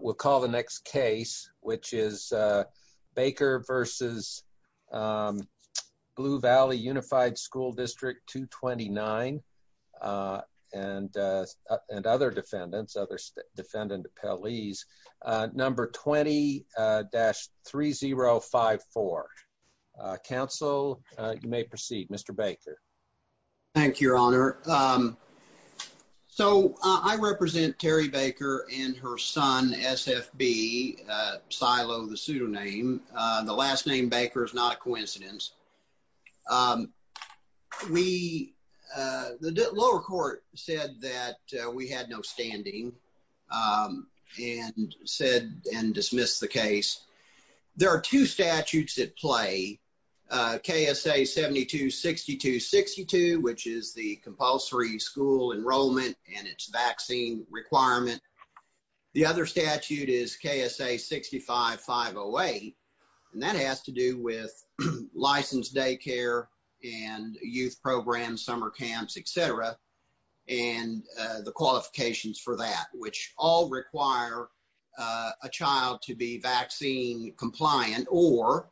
we'll call the next case which is Baker v. Blue Valley Unified School District 229 and and other defendants other defendant appellees number 20-3054 counsel you may proceed mr. Baker thank your honor so I represent Terry Baker and her son SFB silo the pseudonym the last name Baker is not a coincidence we the lower court said that we had no standing and said and dismissed the case there are two statutes at play KSA 726262 which is the compulsory school enrollment and its vaccine requirement the other statute is KSA 65508 and that has to do with licensed daycare and youth programs summer camps etc and the qualifications for that which all require a child to be vaccine compliant or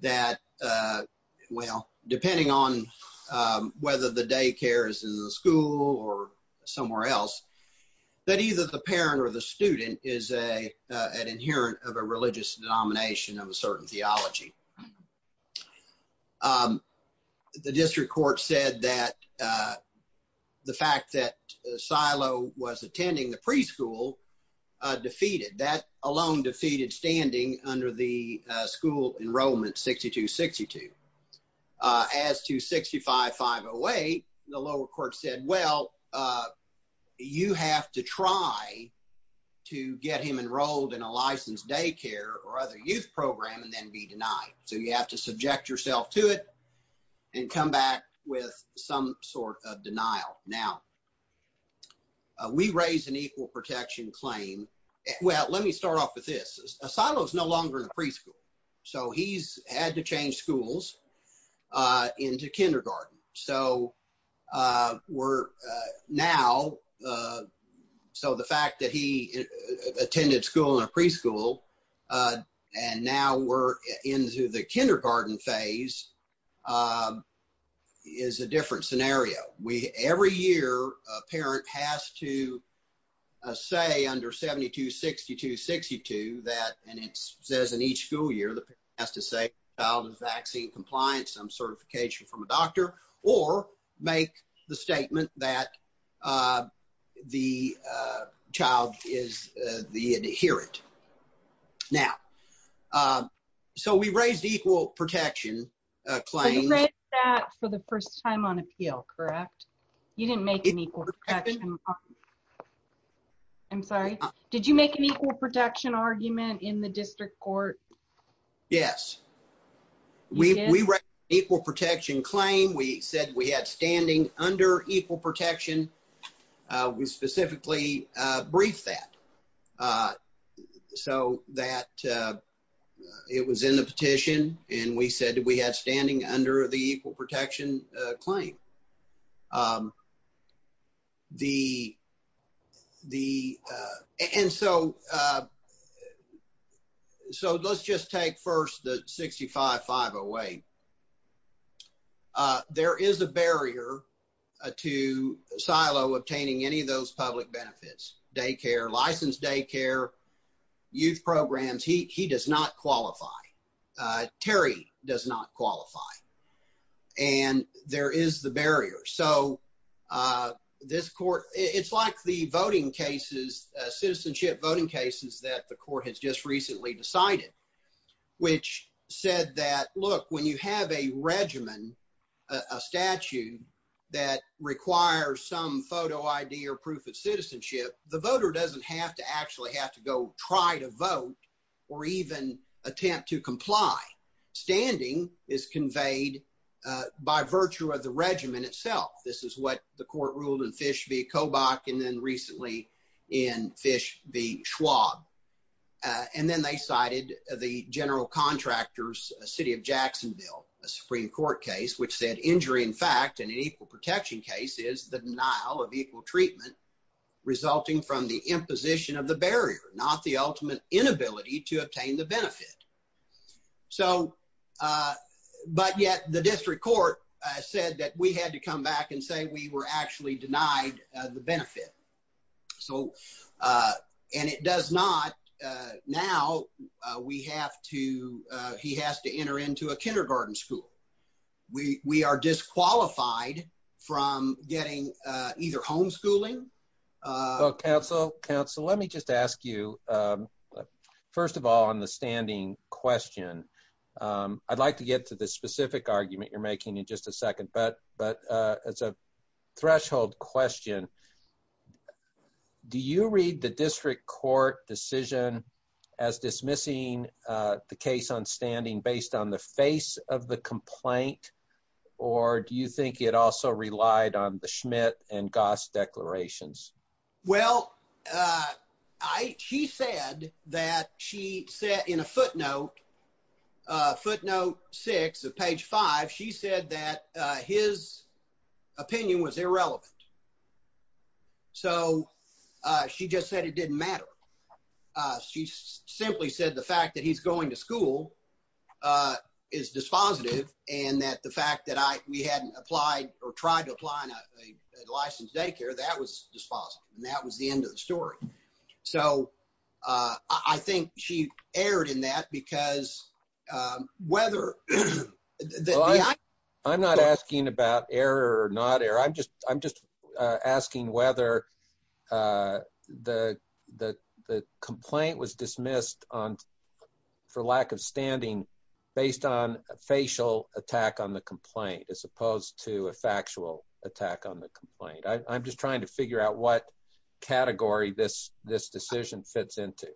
that well depending on whether the daycares in the school or somewhere else that either the parent or the student is a an inherent of a religious denomination of a certain theology the district court said that the fact that silo was attending the preschool defeated that alone defeated standing under the school enrollment 6262 as to 65508 the lower court said well you have to try to get him enrolled in a licensed daycare or other youth program and then be denied so you have to subject yourself to it and come back with some sort of denial now we raise an equal protection claim well let me start off with this a silo is no longer in preschool so he's had to change schools into kindergarten so we're now so the fact that he attended school in a preschool and now we're into the kindergarten phase is a different scenario we every year a parent has to say under 7262 62 that and it says in each school year the past is a vaccine compliance some certification from a doctor or make the statement that the child is the adherent now so we raised equal protection claim for the first time on appeal correct you didn't make it I'm sorry did you make an equal protection argument in the district court yes we equal protection claim we said we had standing under equal and we said we had standing under the equal protection claim the the and so so let's just take first the 65508 there is a barrier to silo obtaining any of those public benefits daycare licensed daycare youth programs he does not qualify Terry does not qualify and there is the barrier so this court it's like the voting cases citizenship voting cases that the court has just recently decided which said that look when you have a regimen a statute that requires some photo ID or proof of citizenship the voter doesn't have to actually have to go try to vote or even attempt to comply standing is conveyed by virtue of the regimen itself this is what the court ruled and fish be a Kobach and then recently in fish the Schwab and then they cited the general contractors City of Jacksonville a Supreme Court case which said injury in fact and an equal protection case is the denial of equal treatment resulting from the position of the barrier not the ultimate inability to obtain the benefit so but yet the district court said that we had to come back and say we were actually denied the benefit so and it does not now we have to he has to enter into a kindergarten school we we are disqualified from getting either homeschooling counsel counsel let me just ask you first of all on the standing question I'd like to get to the specific argument you're making in just a second but but it's a threshold question do you read the district court decision as dismissing the case on standing based on the face of the declarations well I she said that she said in a footnote footnote six of page five she said that his opinion was irrelevant so she just said it didn't matter she simply said the fact that he's going to school is dispositive and that the fact that I we hadn't applied or tried to apply in a licensed daycare that was dispositive and that was the end of the story so I think she erred in that because whether I'm not asking about error or not error I'm just I'm just asking whether the the the complaint was dismissed on for lack of the complaint as opposed to a factual attack on the complaint I'm just trying to figure out what category this this decision fits into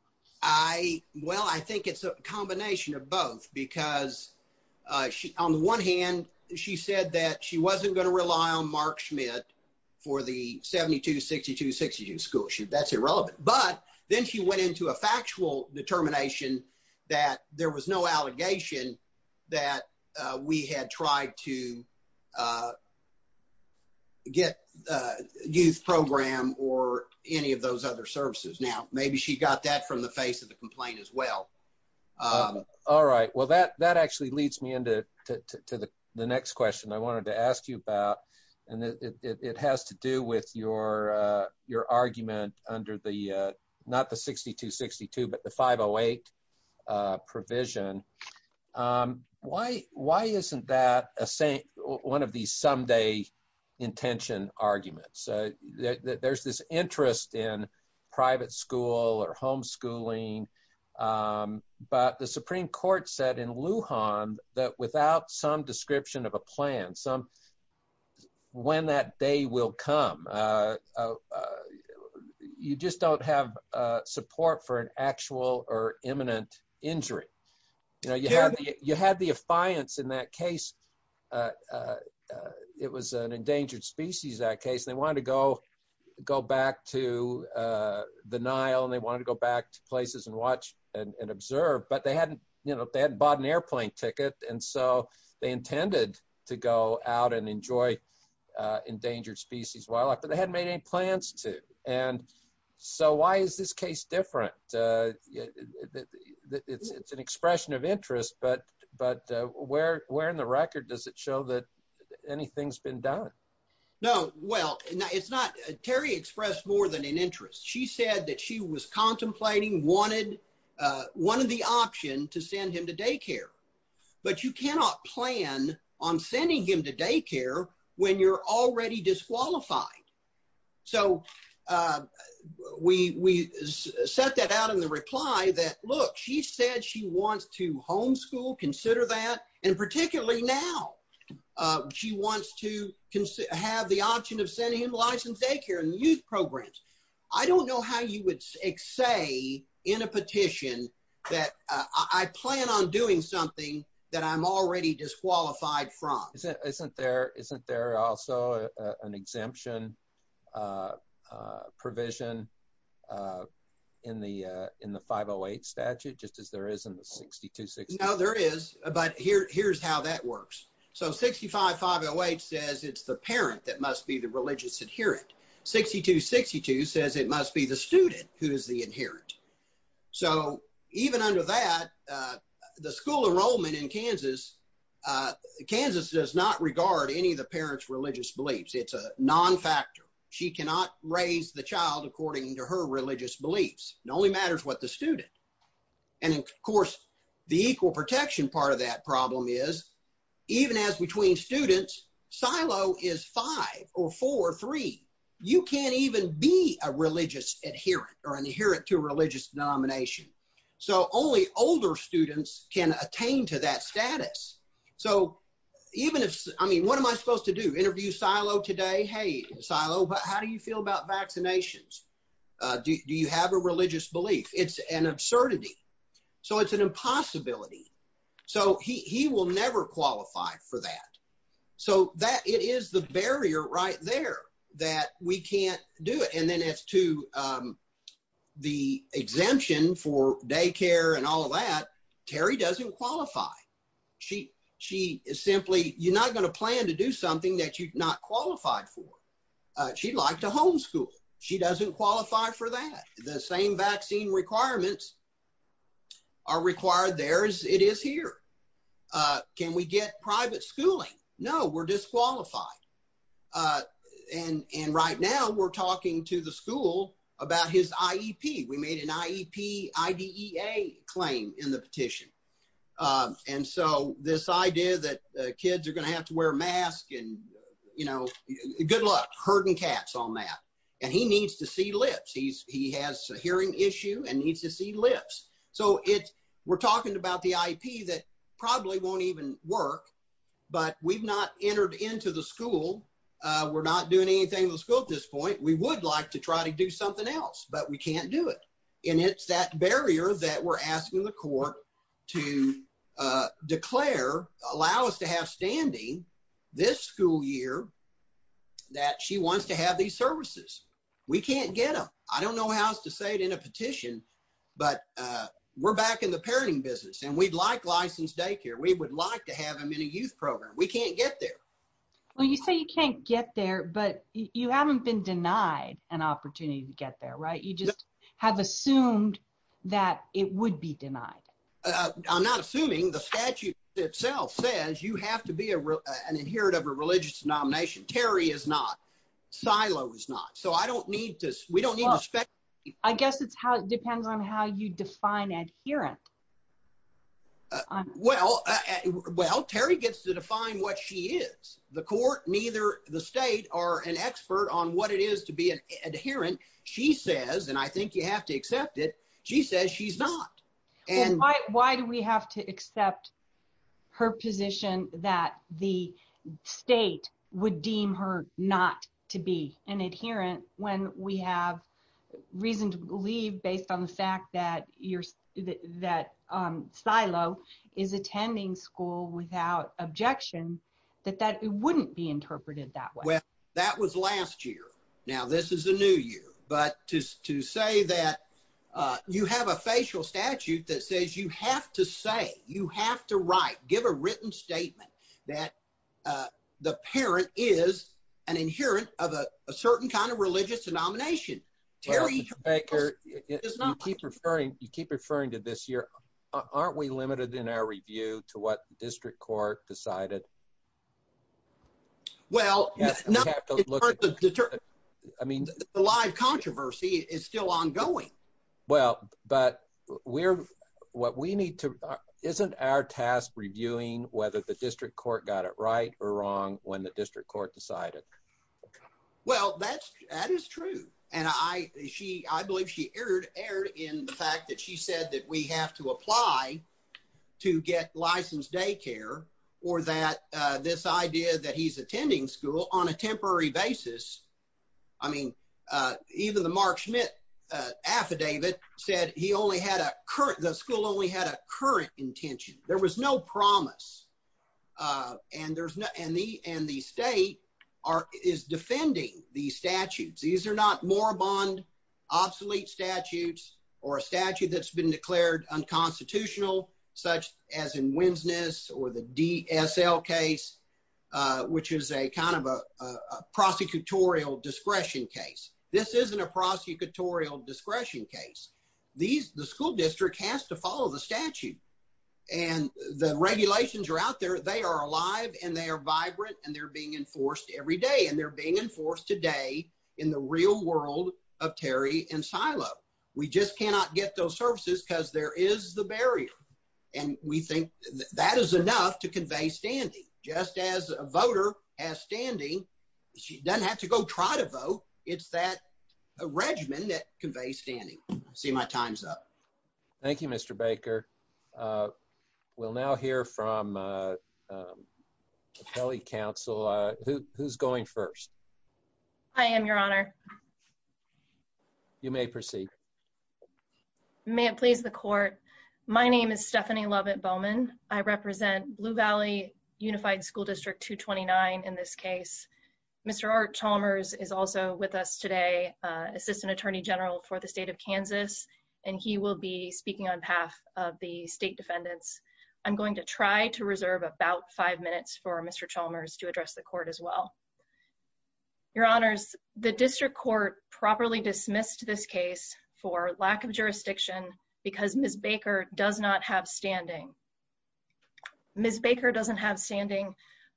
I well I think it's a combination of both because she on the one hand she said that she wasn't going to rely on Mark Schmidt for the 72 62 62 school she that's irrelevant but then she went into a factual determination that there was no allegation that we had tried to get youth program or any of those other services now maybe she got that from the face of the complaint as well all right well that that actually leads me into to the next question I wanted to ask you about and it has to do with your your argument under the not the 62 62 but the 508 provision why why isn't that a saint one of these someday intention arguments there's this interest in private school or homeschooling but the Supreme Court said in Lujan that without some description of a plan some when that day will come you just don't have support for an actual or imminent injury you know you you had the affiance in that case it was an endangered species that case they wanted to go go back to the Nile and they wanted to go back to places and watch and observe but they hadn't you know they hadn't bought an airplane ticket and so they intended to go out and enjoy endangered species wildlife but they hadn't made any plans to and so why is this case different it's an expression of interest but but where in the record does it show that anything's been done no well it's not Terry expressed more than an interest she said that she was contemplating wanted one of the option to send him to daycare but you cannot plan on sending him to daycare when you're already disqualified so we set that out in the reply that look she said she wants to homeschool consider that and particularly now she wants to have the option of sending him license daycare and youth programs I don't know how you would say in a petition that I plan on doing something that I'm already disqualified from isn't there isn't there also an exemption provision in the in the 508 statute just as there is in the 60 to 60 now there is but here here's how that works so 65 508 says it's the parent that must be the religious adherent 62 62 says it must be the student who is the inherent so even under that the school enrollment in any of the parents religious beliefs it's a non-factor she cannot raise the child according to her religious beliefs it only matters what the student and of course the equal protection part of that problem is even as between students silo is five or four three you can't even be a religious adherent or an adherent to religious denomination so only older students can attain to that status so even if I mean what am I supposed to do interview silo today hey silo but how do you feel about vaccinations do you have a religious belief it's an absurdity so it's an impossibility so he will never qualify for that so that it is the barrier right there that we can't do it and then it's to the exemption for simply you're not going to plan to do something that you've not qualified for she'd like to homeschool she doesn't qualify for that the same vaccine requirements are required there as it is here can we get private schooling no we're disqualified and and right now we're talking to the school about his IEP we made an IEP IDEA claim in the petition and so this idea that kids are going to have to wear masks and you know good luck herding cats on that and he needs to see lips he's he has a hearing issue and needs to see lips so it we're talking about the IEP that probably won't even work but we've not entered into the school we're not doing anything in the school at this point we would like to try to do something else but we can't do it and it's that barrier that we're asking the court to declare allow us to have standing this school year that she wants to have these services we can't get them I don't know how else to say it in a petition but we're back in the parenting business and we'd like licensed daycare we would like to have him in a youth program we can't get there well you say you can't get there but you haven't been denied an opportunity to get there right you just have assumed that it would be denied I'm not assuming the statute itself says you have to be a real an adherent of a religious denomination Terry is not silo is not so I don't need this we don't expect I guess it's how it depends on how you define adherent well well Terry gets to define what she is the court neither the state or an expert on what it is to be an adherent she says and I think you have to accept it she says she's not and why do we have to accept her position that the state would deem her not to be an adherent when we have reason to believe based on the fact that that silo is attending school without objection that that wouldn't be interpreted that way that was last year now this is a new year but to say that you have a facial statute that says you have to say you have to write give a written statement that the parent is an inherent of a certain kind of religious denomination you keep referring to this year aren't we limited in our review to what district court decided well I mean the live controversy is still ongoing well but we're what we need to isn't our task reviewing whether the district court got it right or wrong when the district court decided well that's that and I she I believe she erred erred in the fact that she said that we have to apply to get licensed daycare or that this idea that he's attending school on a temporary basis I mean even the Mark Schmidt affidavit said he only had a current the school only had a current intention there was no promise and there's no and the and the state are is defending these statutes these are not more bond obsolete statutes or a statute that's been declared unconstitutional such as in Winsness or the DSL case which is a kind of a prosecutorial discretion case this isn't a prosecutorial discretion case these the school district has to follow the statute and the regulations are out they are alive and they are vibrant and they're being enforced every day and they're being enforced today in the real world of Terry and silo we just cannot get those services because there is the barrier and we think that is enough to convey standing just as a voter as standing she doesn't have to go try to vote it's that a regimen that conveys standing see my times up Thank You mr. Baker we'll now hear from Kelly Council who's going first I am your honor you may proceed may it please the court my name is Stephanie Lovett Bowman I represent Blue Valley Unified School District 229 in this case mr. R Chalmers is also with us today assistant attorney general for the state of Kansas and he will be speaking on behalf of the state defendants I'm going to try to reserve about five minutes for mr. Chalmers to address the court as well your honors the district court properly dismissed this case for lack of jurisdiction because miss Baker does not have standing miss Baker doesn't have standing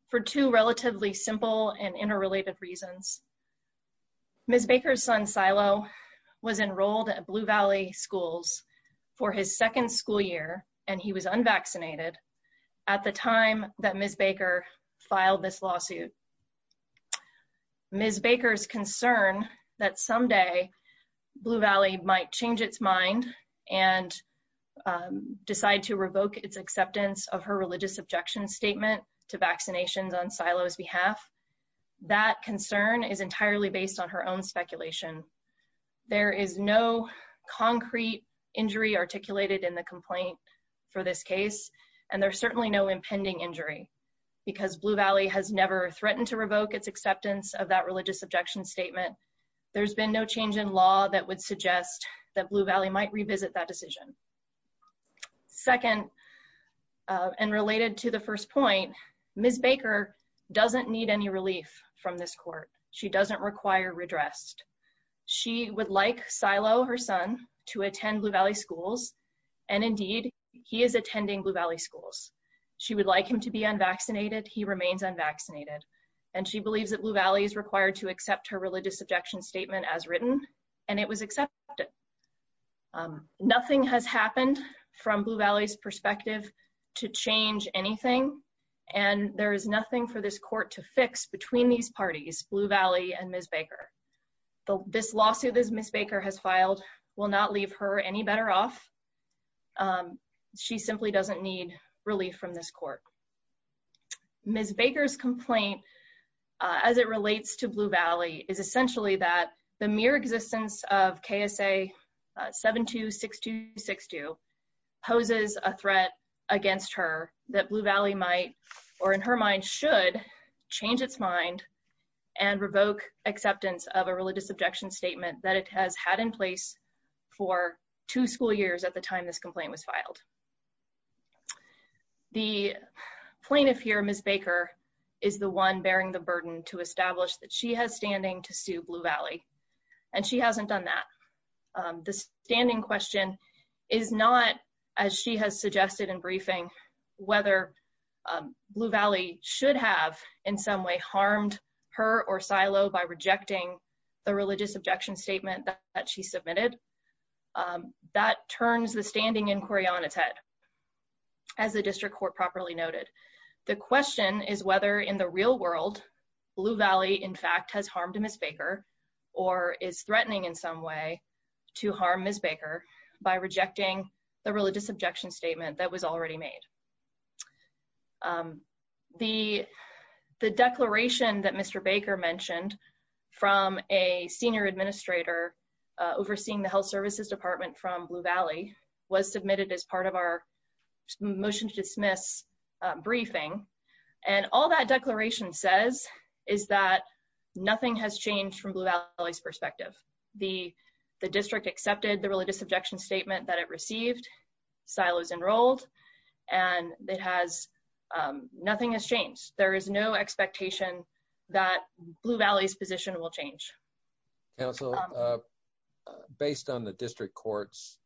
for two relatively simple and interrelated reasons miss Baker's son silo was enrolled at Blue Valley schools for his second school year and he was unvaccinated at the time that miss Baker filed this lawsuit miss Baker's concern that someday Blue Valley might change its mind and decide to revoke its acceptance of her religious objection statement to vaccinations on silo's behalf that concern is entirely based on her own speculation there is no concrete injury articulated in the complaint for this case and there's certainly no impending injury because Blue Valley has never threatened to revoke its acceptance of that religious objection statement there's been no change in law that would suggest that Blue Valley might revisit that decision second and related to the first point miss Baker doesn't need any relief from this court she doesn't require redressed she would like silo her son to attend Blue Valley schools and indeed he is attending Blue Valley schools she would like him to be unvaccinated he remains unvaccinated and she believes that Blue Valley is required to accept her religious objection statement as written and it was accepted nothing has happened from Blue Valley's perspective to change anything and there is nothing for this court to fix between these parties Blue Valley and miss Baker this lawsuit is miss Baker has filed will not leave her any better off she simply doesn't need relief from this court miss Baker's complaint as it relates to Blue Valley is essentially that the mere existence of KSA 726262 poses a threat against her that Blue Valley might or in her mind should change its mind and revoke acceptance of a religious objection statement that it has had in place for two school years at the time this complaint was filed the plaintiff here miss Baker is the one bearing the the standing question is not as she has suggested in briefing whether Blue Valley should have in some way harmed her or silo by rejecting the religious objection statement that she submitted that turns the standing inquiry on its head as the district court properly noted the question is whether in the in some way to harm miss Baker by rejecting the religious objection statement that was already made the the declaration that mr. Baker mentioned from a senior administrator overseeing the Health Services Department from Blue Valley was submitted as part of our motion to dismiss briefing and all that the district accepted the religious objection statement that it received silos enrolled and it has nothing has changed there is no expectation that Blue Valley's position will change based on the district courts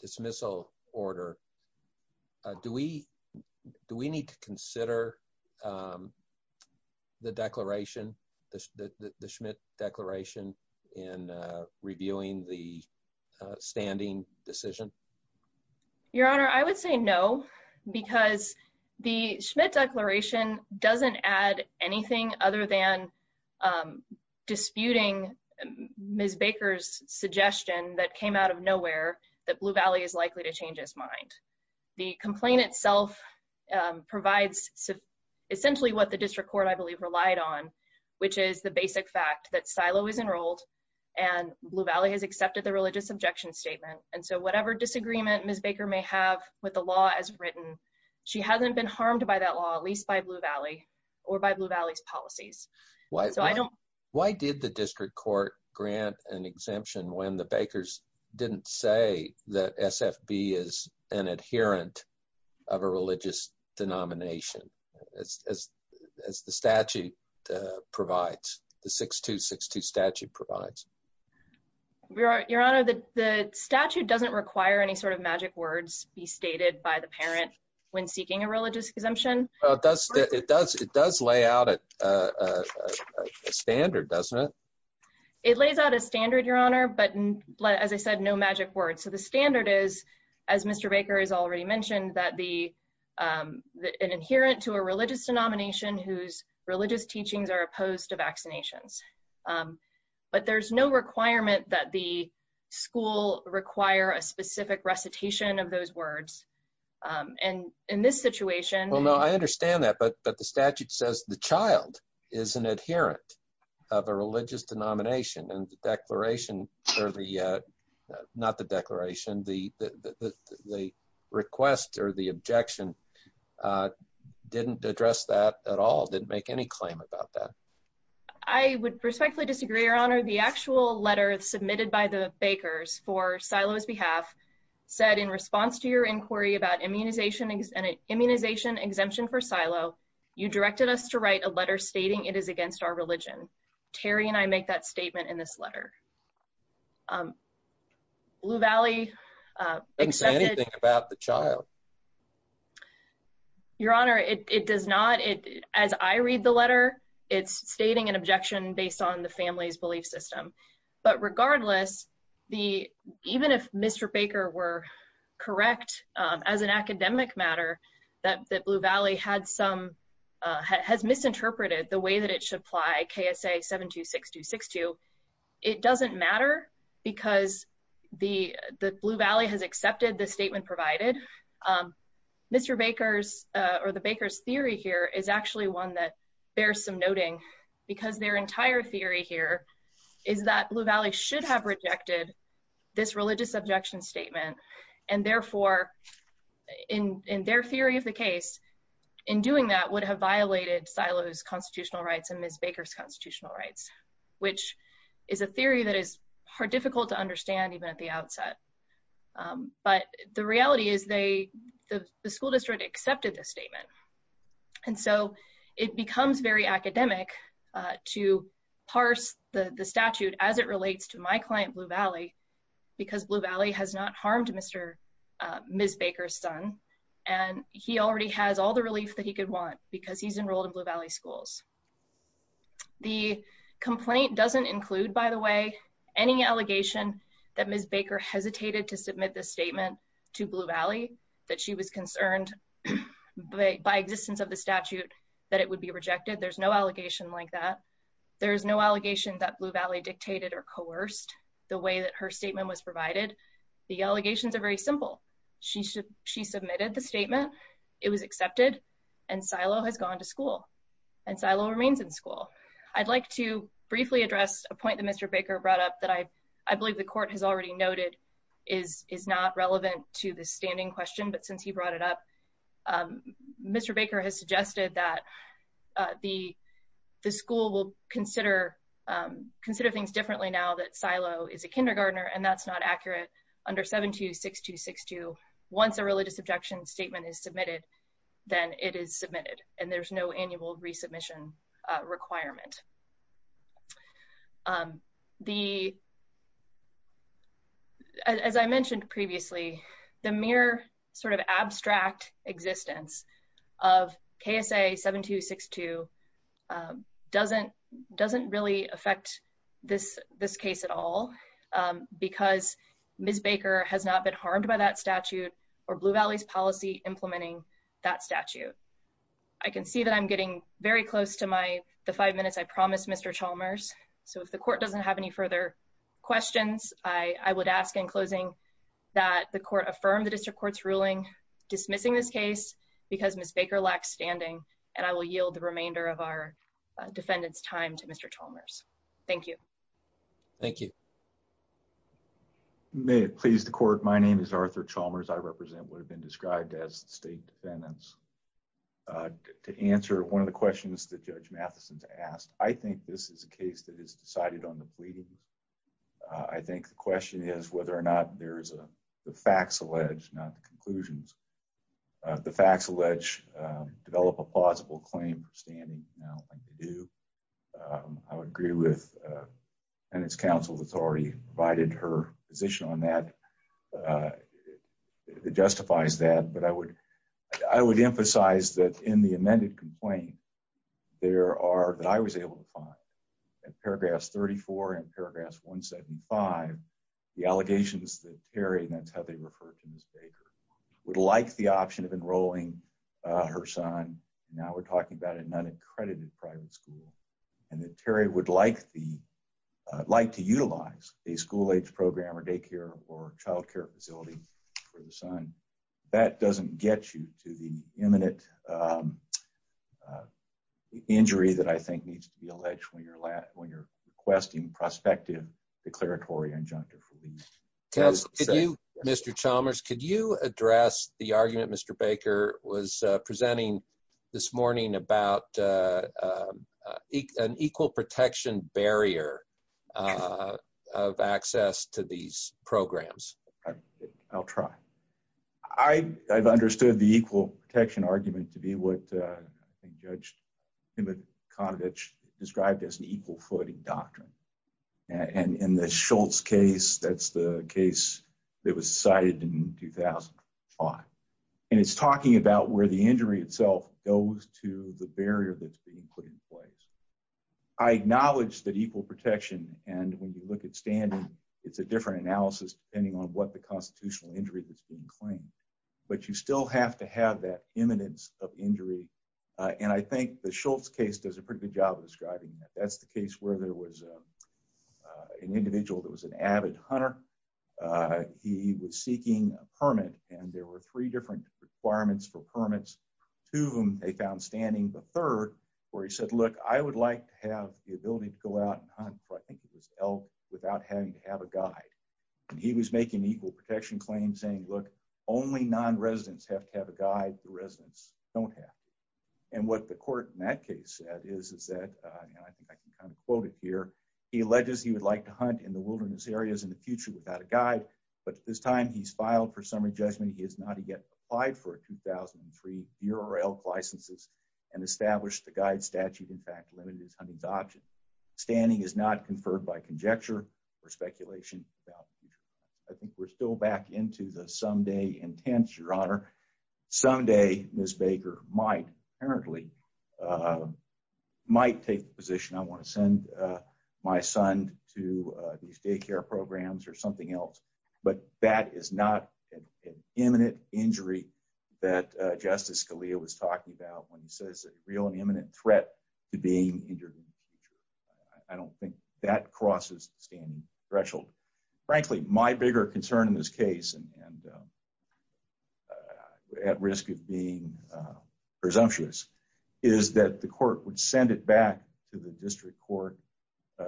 dismissal order do we do we need to consider the declaration the Schmidt declaration in reviewing the standing decision your honor I would say no because the Schmidt declaration doesn't add anything other than disputing miss Baker's suggestion that came out of nowhere that Blue Valley is likely to change his mind the complaint itself provides essentially what the district court I believe relied on which is the basic fact that silo is enrolled and Blue Valley has accepted the religious objection statement and so whatever disagreement miss Baker may have with the law as written she hasn't been harmed by that law at least by Blue Valley or by Blue Valley's policies why so I don't why did the district court grant an exemption when the Bakers didn't say that SFB is an adherent of a religious denomination as the statute provides the 6262 statute provides we are your honor that the statute doesn't require any sort of magic words be stated by the parent when seeking a religious exemption does it does it does lay out a standard doesn't it it lays out a standard your honor but as I said no magic words so the standard is as mr. Baker has already mentioned that the an adherent to a religious denomination whose religious teachings are opposed to vaccinations but there's no requirement that the school require a specific recitation of those words and in this situation well no I understand that but the statute says the child is an adherent of a religious denomination and the declaration or the not the declaration the the request or the objection didn't address that at all didn't make any claim about that I would respectfully disagree your honor the actual letter submitted by the Bakers for silos behalf said in response to your inquiry about immunization and an you directed us to write a letter stating it is against our religion Terry and I make that statement in this letter Blue Valley anything about the child your honor it does not it as I read the letter it's stating an objection based on the family's belief system but regardless the even if mr. Baker were correct as an academic matter that that had some has misinterpreted the way that it should apply KSA 726262 it doesn't matter because the the Blue Valley has accepted the statement provided mr. Baker's or the Baker's theory here is actually one that bears some noting because their entire theory here is that Blue Valley should have rejected this religious objection statement and therefore in in their theory of the case in doing that would have violated silos constitutional rights and Miss Baker's constitutional rights which is a theory that is hard difficult to understand even at the outset but the reality is they the school district accepted this statement and so it becomes very academic to parse the the statute as it relates to my client Blue Valley because Blue Valley has not he already has all the relief that he could want because he's enrolled in Blue Valley schools the complaint doesn't include by the way any allegation that Miss Baker hesitated to submit this statement to Blue Valley that she was concerned but by existence of the statute that it would be rejected there's no allegation like that there is no allegation that Blue Valley dictated or coerced the way that her statement was provided the allegations are very simple she should she submitted the statement it was accepted and silo has gone to school and silo remains in school I'd like to briefly address a point that mr. Baker brought up that I I believe the court has already noted is is not relevant to the standing question but since he brought it up mr. Baker has suggested that the the school will consider consider things differently now that silo is a kindergartner and that's not accurate under 726262 once a religious objection statement is submitted then it is submitted and there's no annual resubmission requirement the as I mentioned previously the mere sort of abstract existence of KSA 7262 doesn't doesn't affect this this case at all because miss Baker has not been harmed by that statute or Blue Valley's policy implementing that statute I can see that I'm getting very close to my the five minutes I promised mr. Chalmers so if the court doesn't have any further questions I I would ask in closing that the court affirmed the district courts ruling dismissing this case because miss Baker lacks standing and I will yield the remainder of our defendants time to mr. Chalmers thank you thank you may it please the court my name is Arthur Chalmers I represent would have been described as state defendants to answer one of the questions that judge Matheson's asked I think this is a case that is decided on the pleading I think the question is whether or not there's a the facts alleged not the conclusions the facts alleged develop a plausible claim for standing now like to do I would agree with and it's counsel authority provided her position on that it justifies that but I would I would emphasize that in the amended complaint there are that I was able to find at paragraphs 34 and paragraphs 175 the allegations that Terry and that's how they refer to miss Baker would like the option of enrolling her son now we're talking about a non-accredited private school and that Terry would like the like to utilize a school-age program or daycare or child care facility for the son that doesn't get you to the imminent injury that I think needs to be alleged when you're lat when you're requesting prospective declaratory injunctor for the council you mr. Chalmers could you address the argument mr. Baker was presenting this morning about an equal protection barrier of access to these programs I'll try I I've understood the equal protection argument to be what judged in the cottage described as an equal footing doctrine and in the Schultz case that's the case that was cited in 2005 and it's talking about where the injury itself goes to the barrier that's being put in place I acknowledge that equal protection and when you look at standing it's a different analysis depending on what the constitutional injury that's being claimed but you still have to have that imminence of injury and I think the Schultz case does a pretty good job of describing that that's the case where there was an individual that was an hunter he was seeking a permit and there were three different requirements for permits to whom they found standing the third where he said look I would like to have the ability to go out without having to have a guide and he was making equal protection claims saying look only non-residents have to have a guide the residents don't have and what the court in that case is is that I can kind of quote it here he alleges he would like to hunt in the wilderness areas in the future without a guide but at this time he's filed for summary judgment he has not yet applied for a 2003 URL licenses and established the guide statute in fact limited his hunting option standing is not conferred by conjecture or speculation I think we're still back into the someday intense your honor someday Miss Baker might apparently might take the position I want to send my son to these daycare programs or something else but that is not an imminent injury that Justice Scalia was talking about when he says a real and imminent threat to being injured I don't think that crosses standing threshold frankly my bigger concern in this case and at risk of presumptuous is that the court would send it back to the district court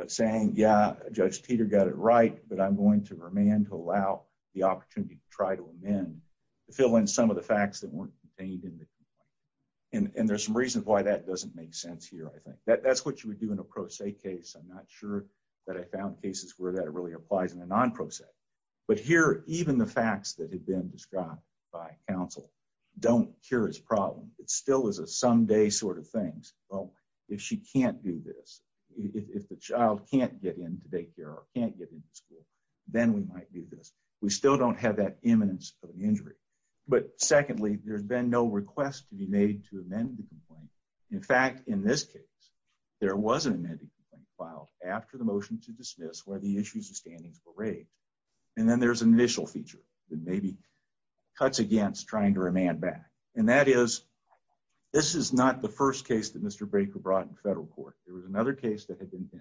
saying yeah judge Teeter got it right but I'm going to remain to allow the opportunity to try to amend to fill in some of the facts that weren't contained in the and and there's some reason why that doesn't make sense here I think that that's what you would do in a pro se case I'm not sure that I found cases where that it really applies in a non process but here even the facts that cure his problem it still is a someday sort of things well if she can't do this if the child can't get into daycare or can't get into school then we might do this we still don't have that imminence of injury but secondly there's been no request to be made to amend the complaint in fact in this case there was an amendment filed after the motion to dismiss where the issues of standings were raked and then there's an initial feature that maybe cuts against trying to remand back and that is this is not the first case that mr. Baker brought in federal court there was another case that had been in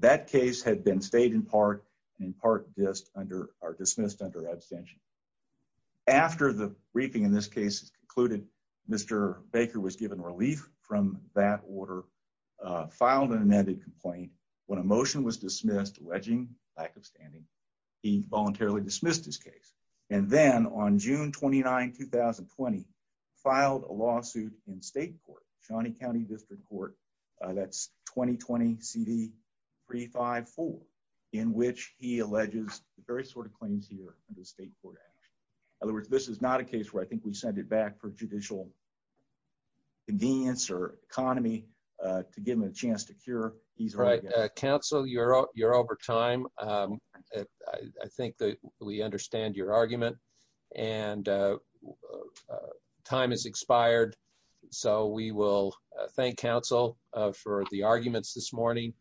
that case had been stayed in part and in part just under our dismissed under abstention after the briefing in this case concluded mr. Baker was given relief from that order filed an amended complaint when a motion was dismissed wedging lack of standing he June 29 2020 filed a lawsuit in state court Shawnee County District Court that's 2020 CD 3 5 4 in which he alleges the very sort of claims here in the state court in other words this is not a case where I think we send it back for judicial convenience or economy to give him a chance to cure he's right counsel you're up you're over time I think that we understand your argument and time is expired so we will thank counsel for the arguments this morning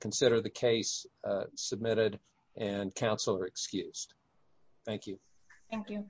consider the case submitted and counsel are excused thank you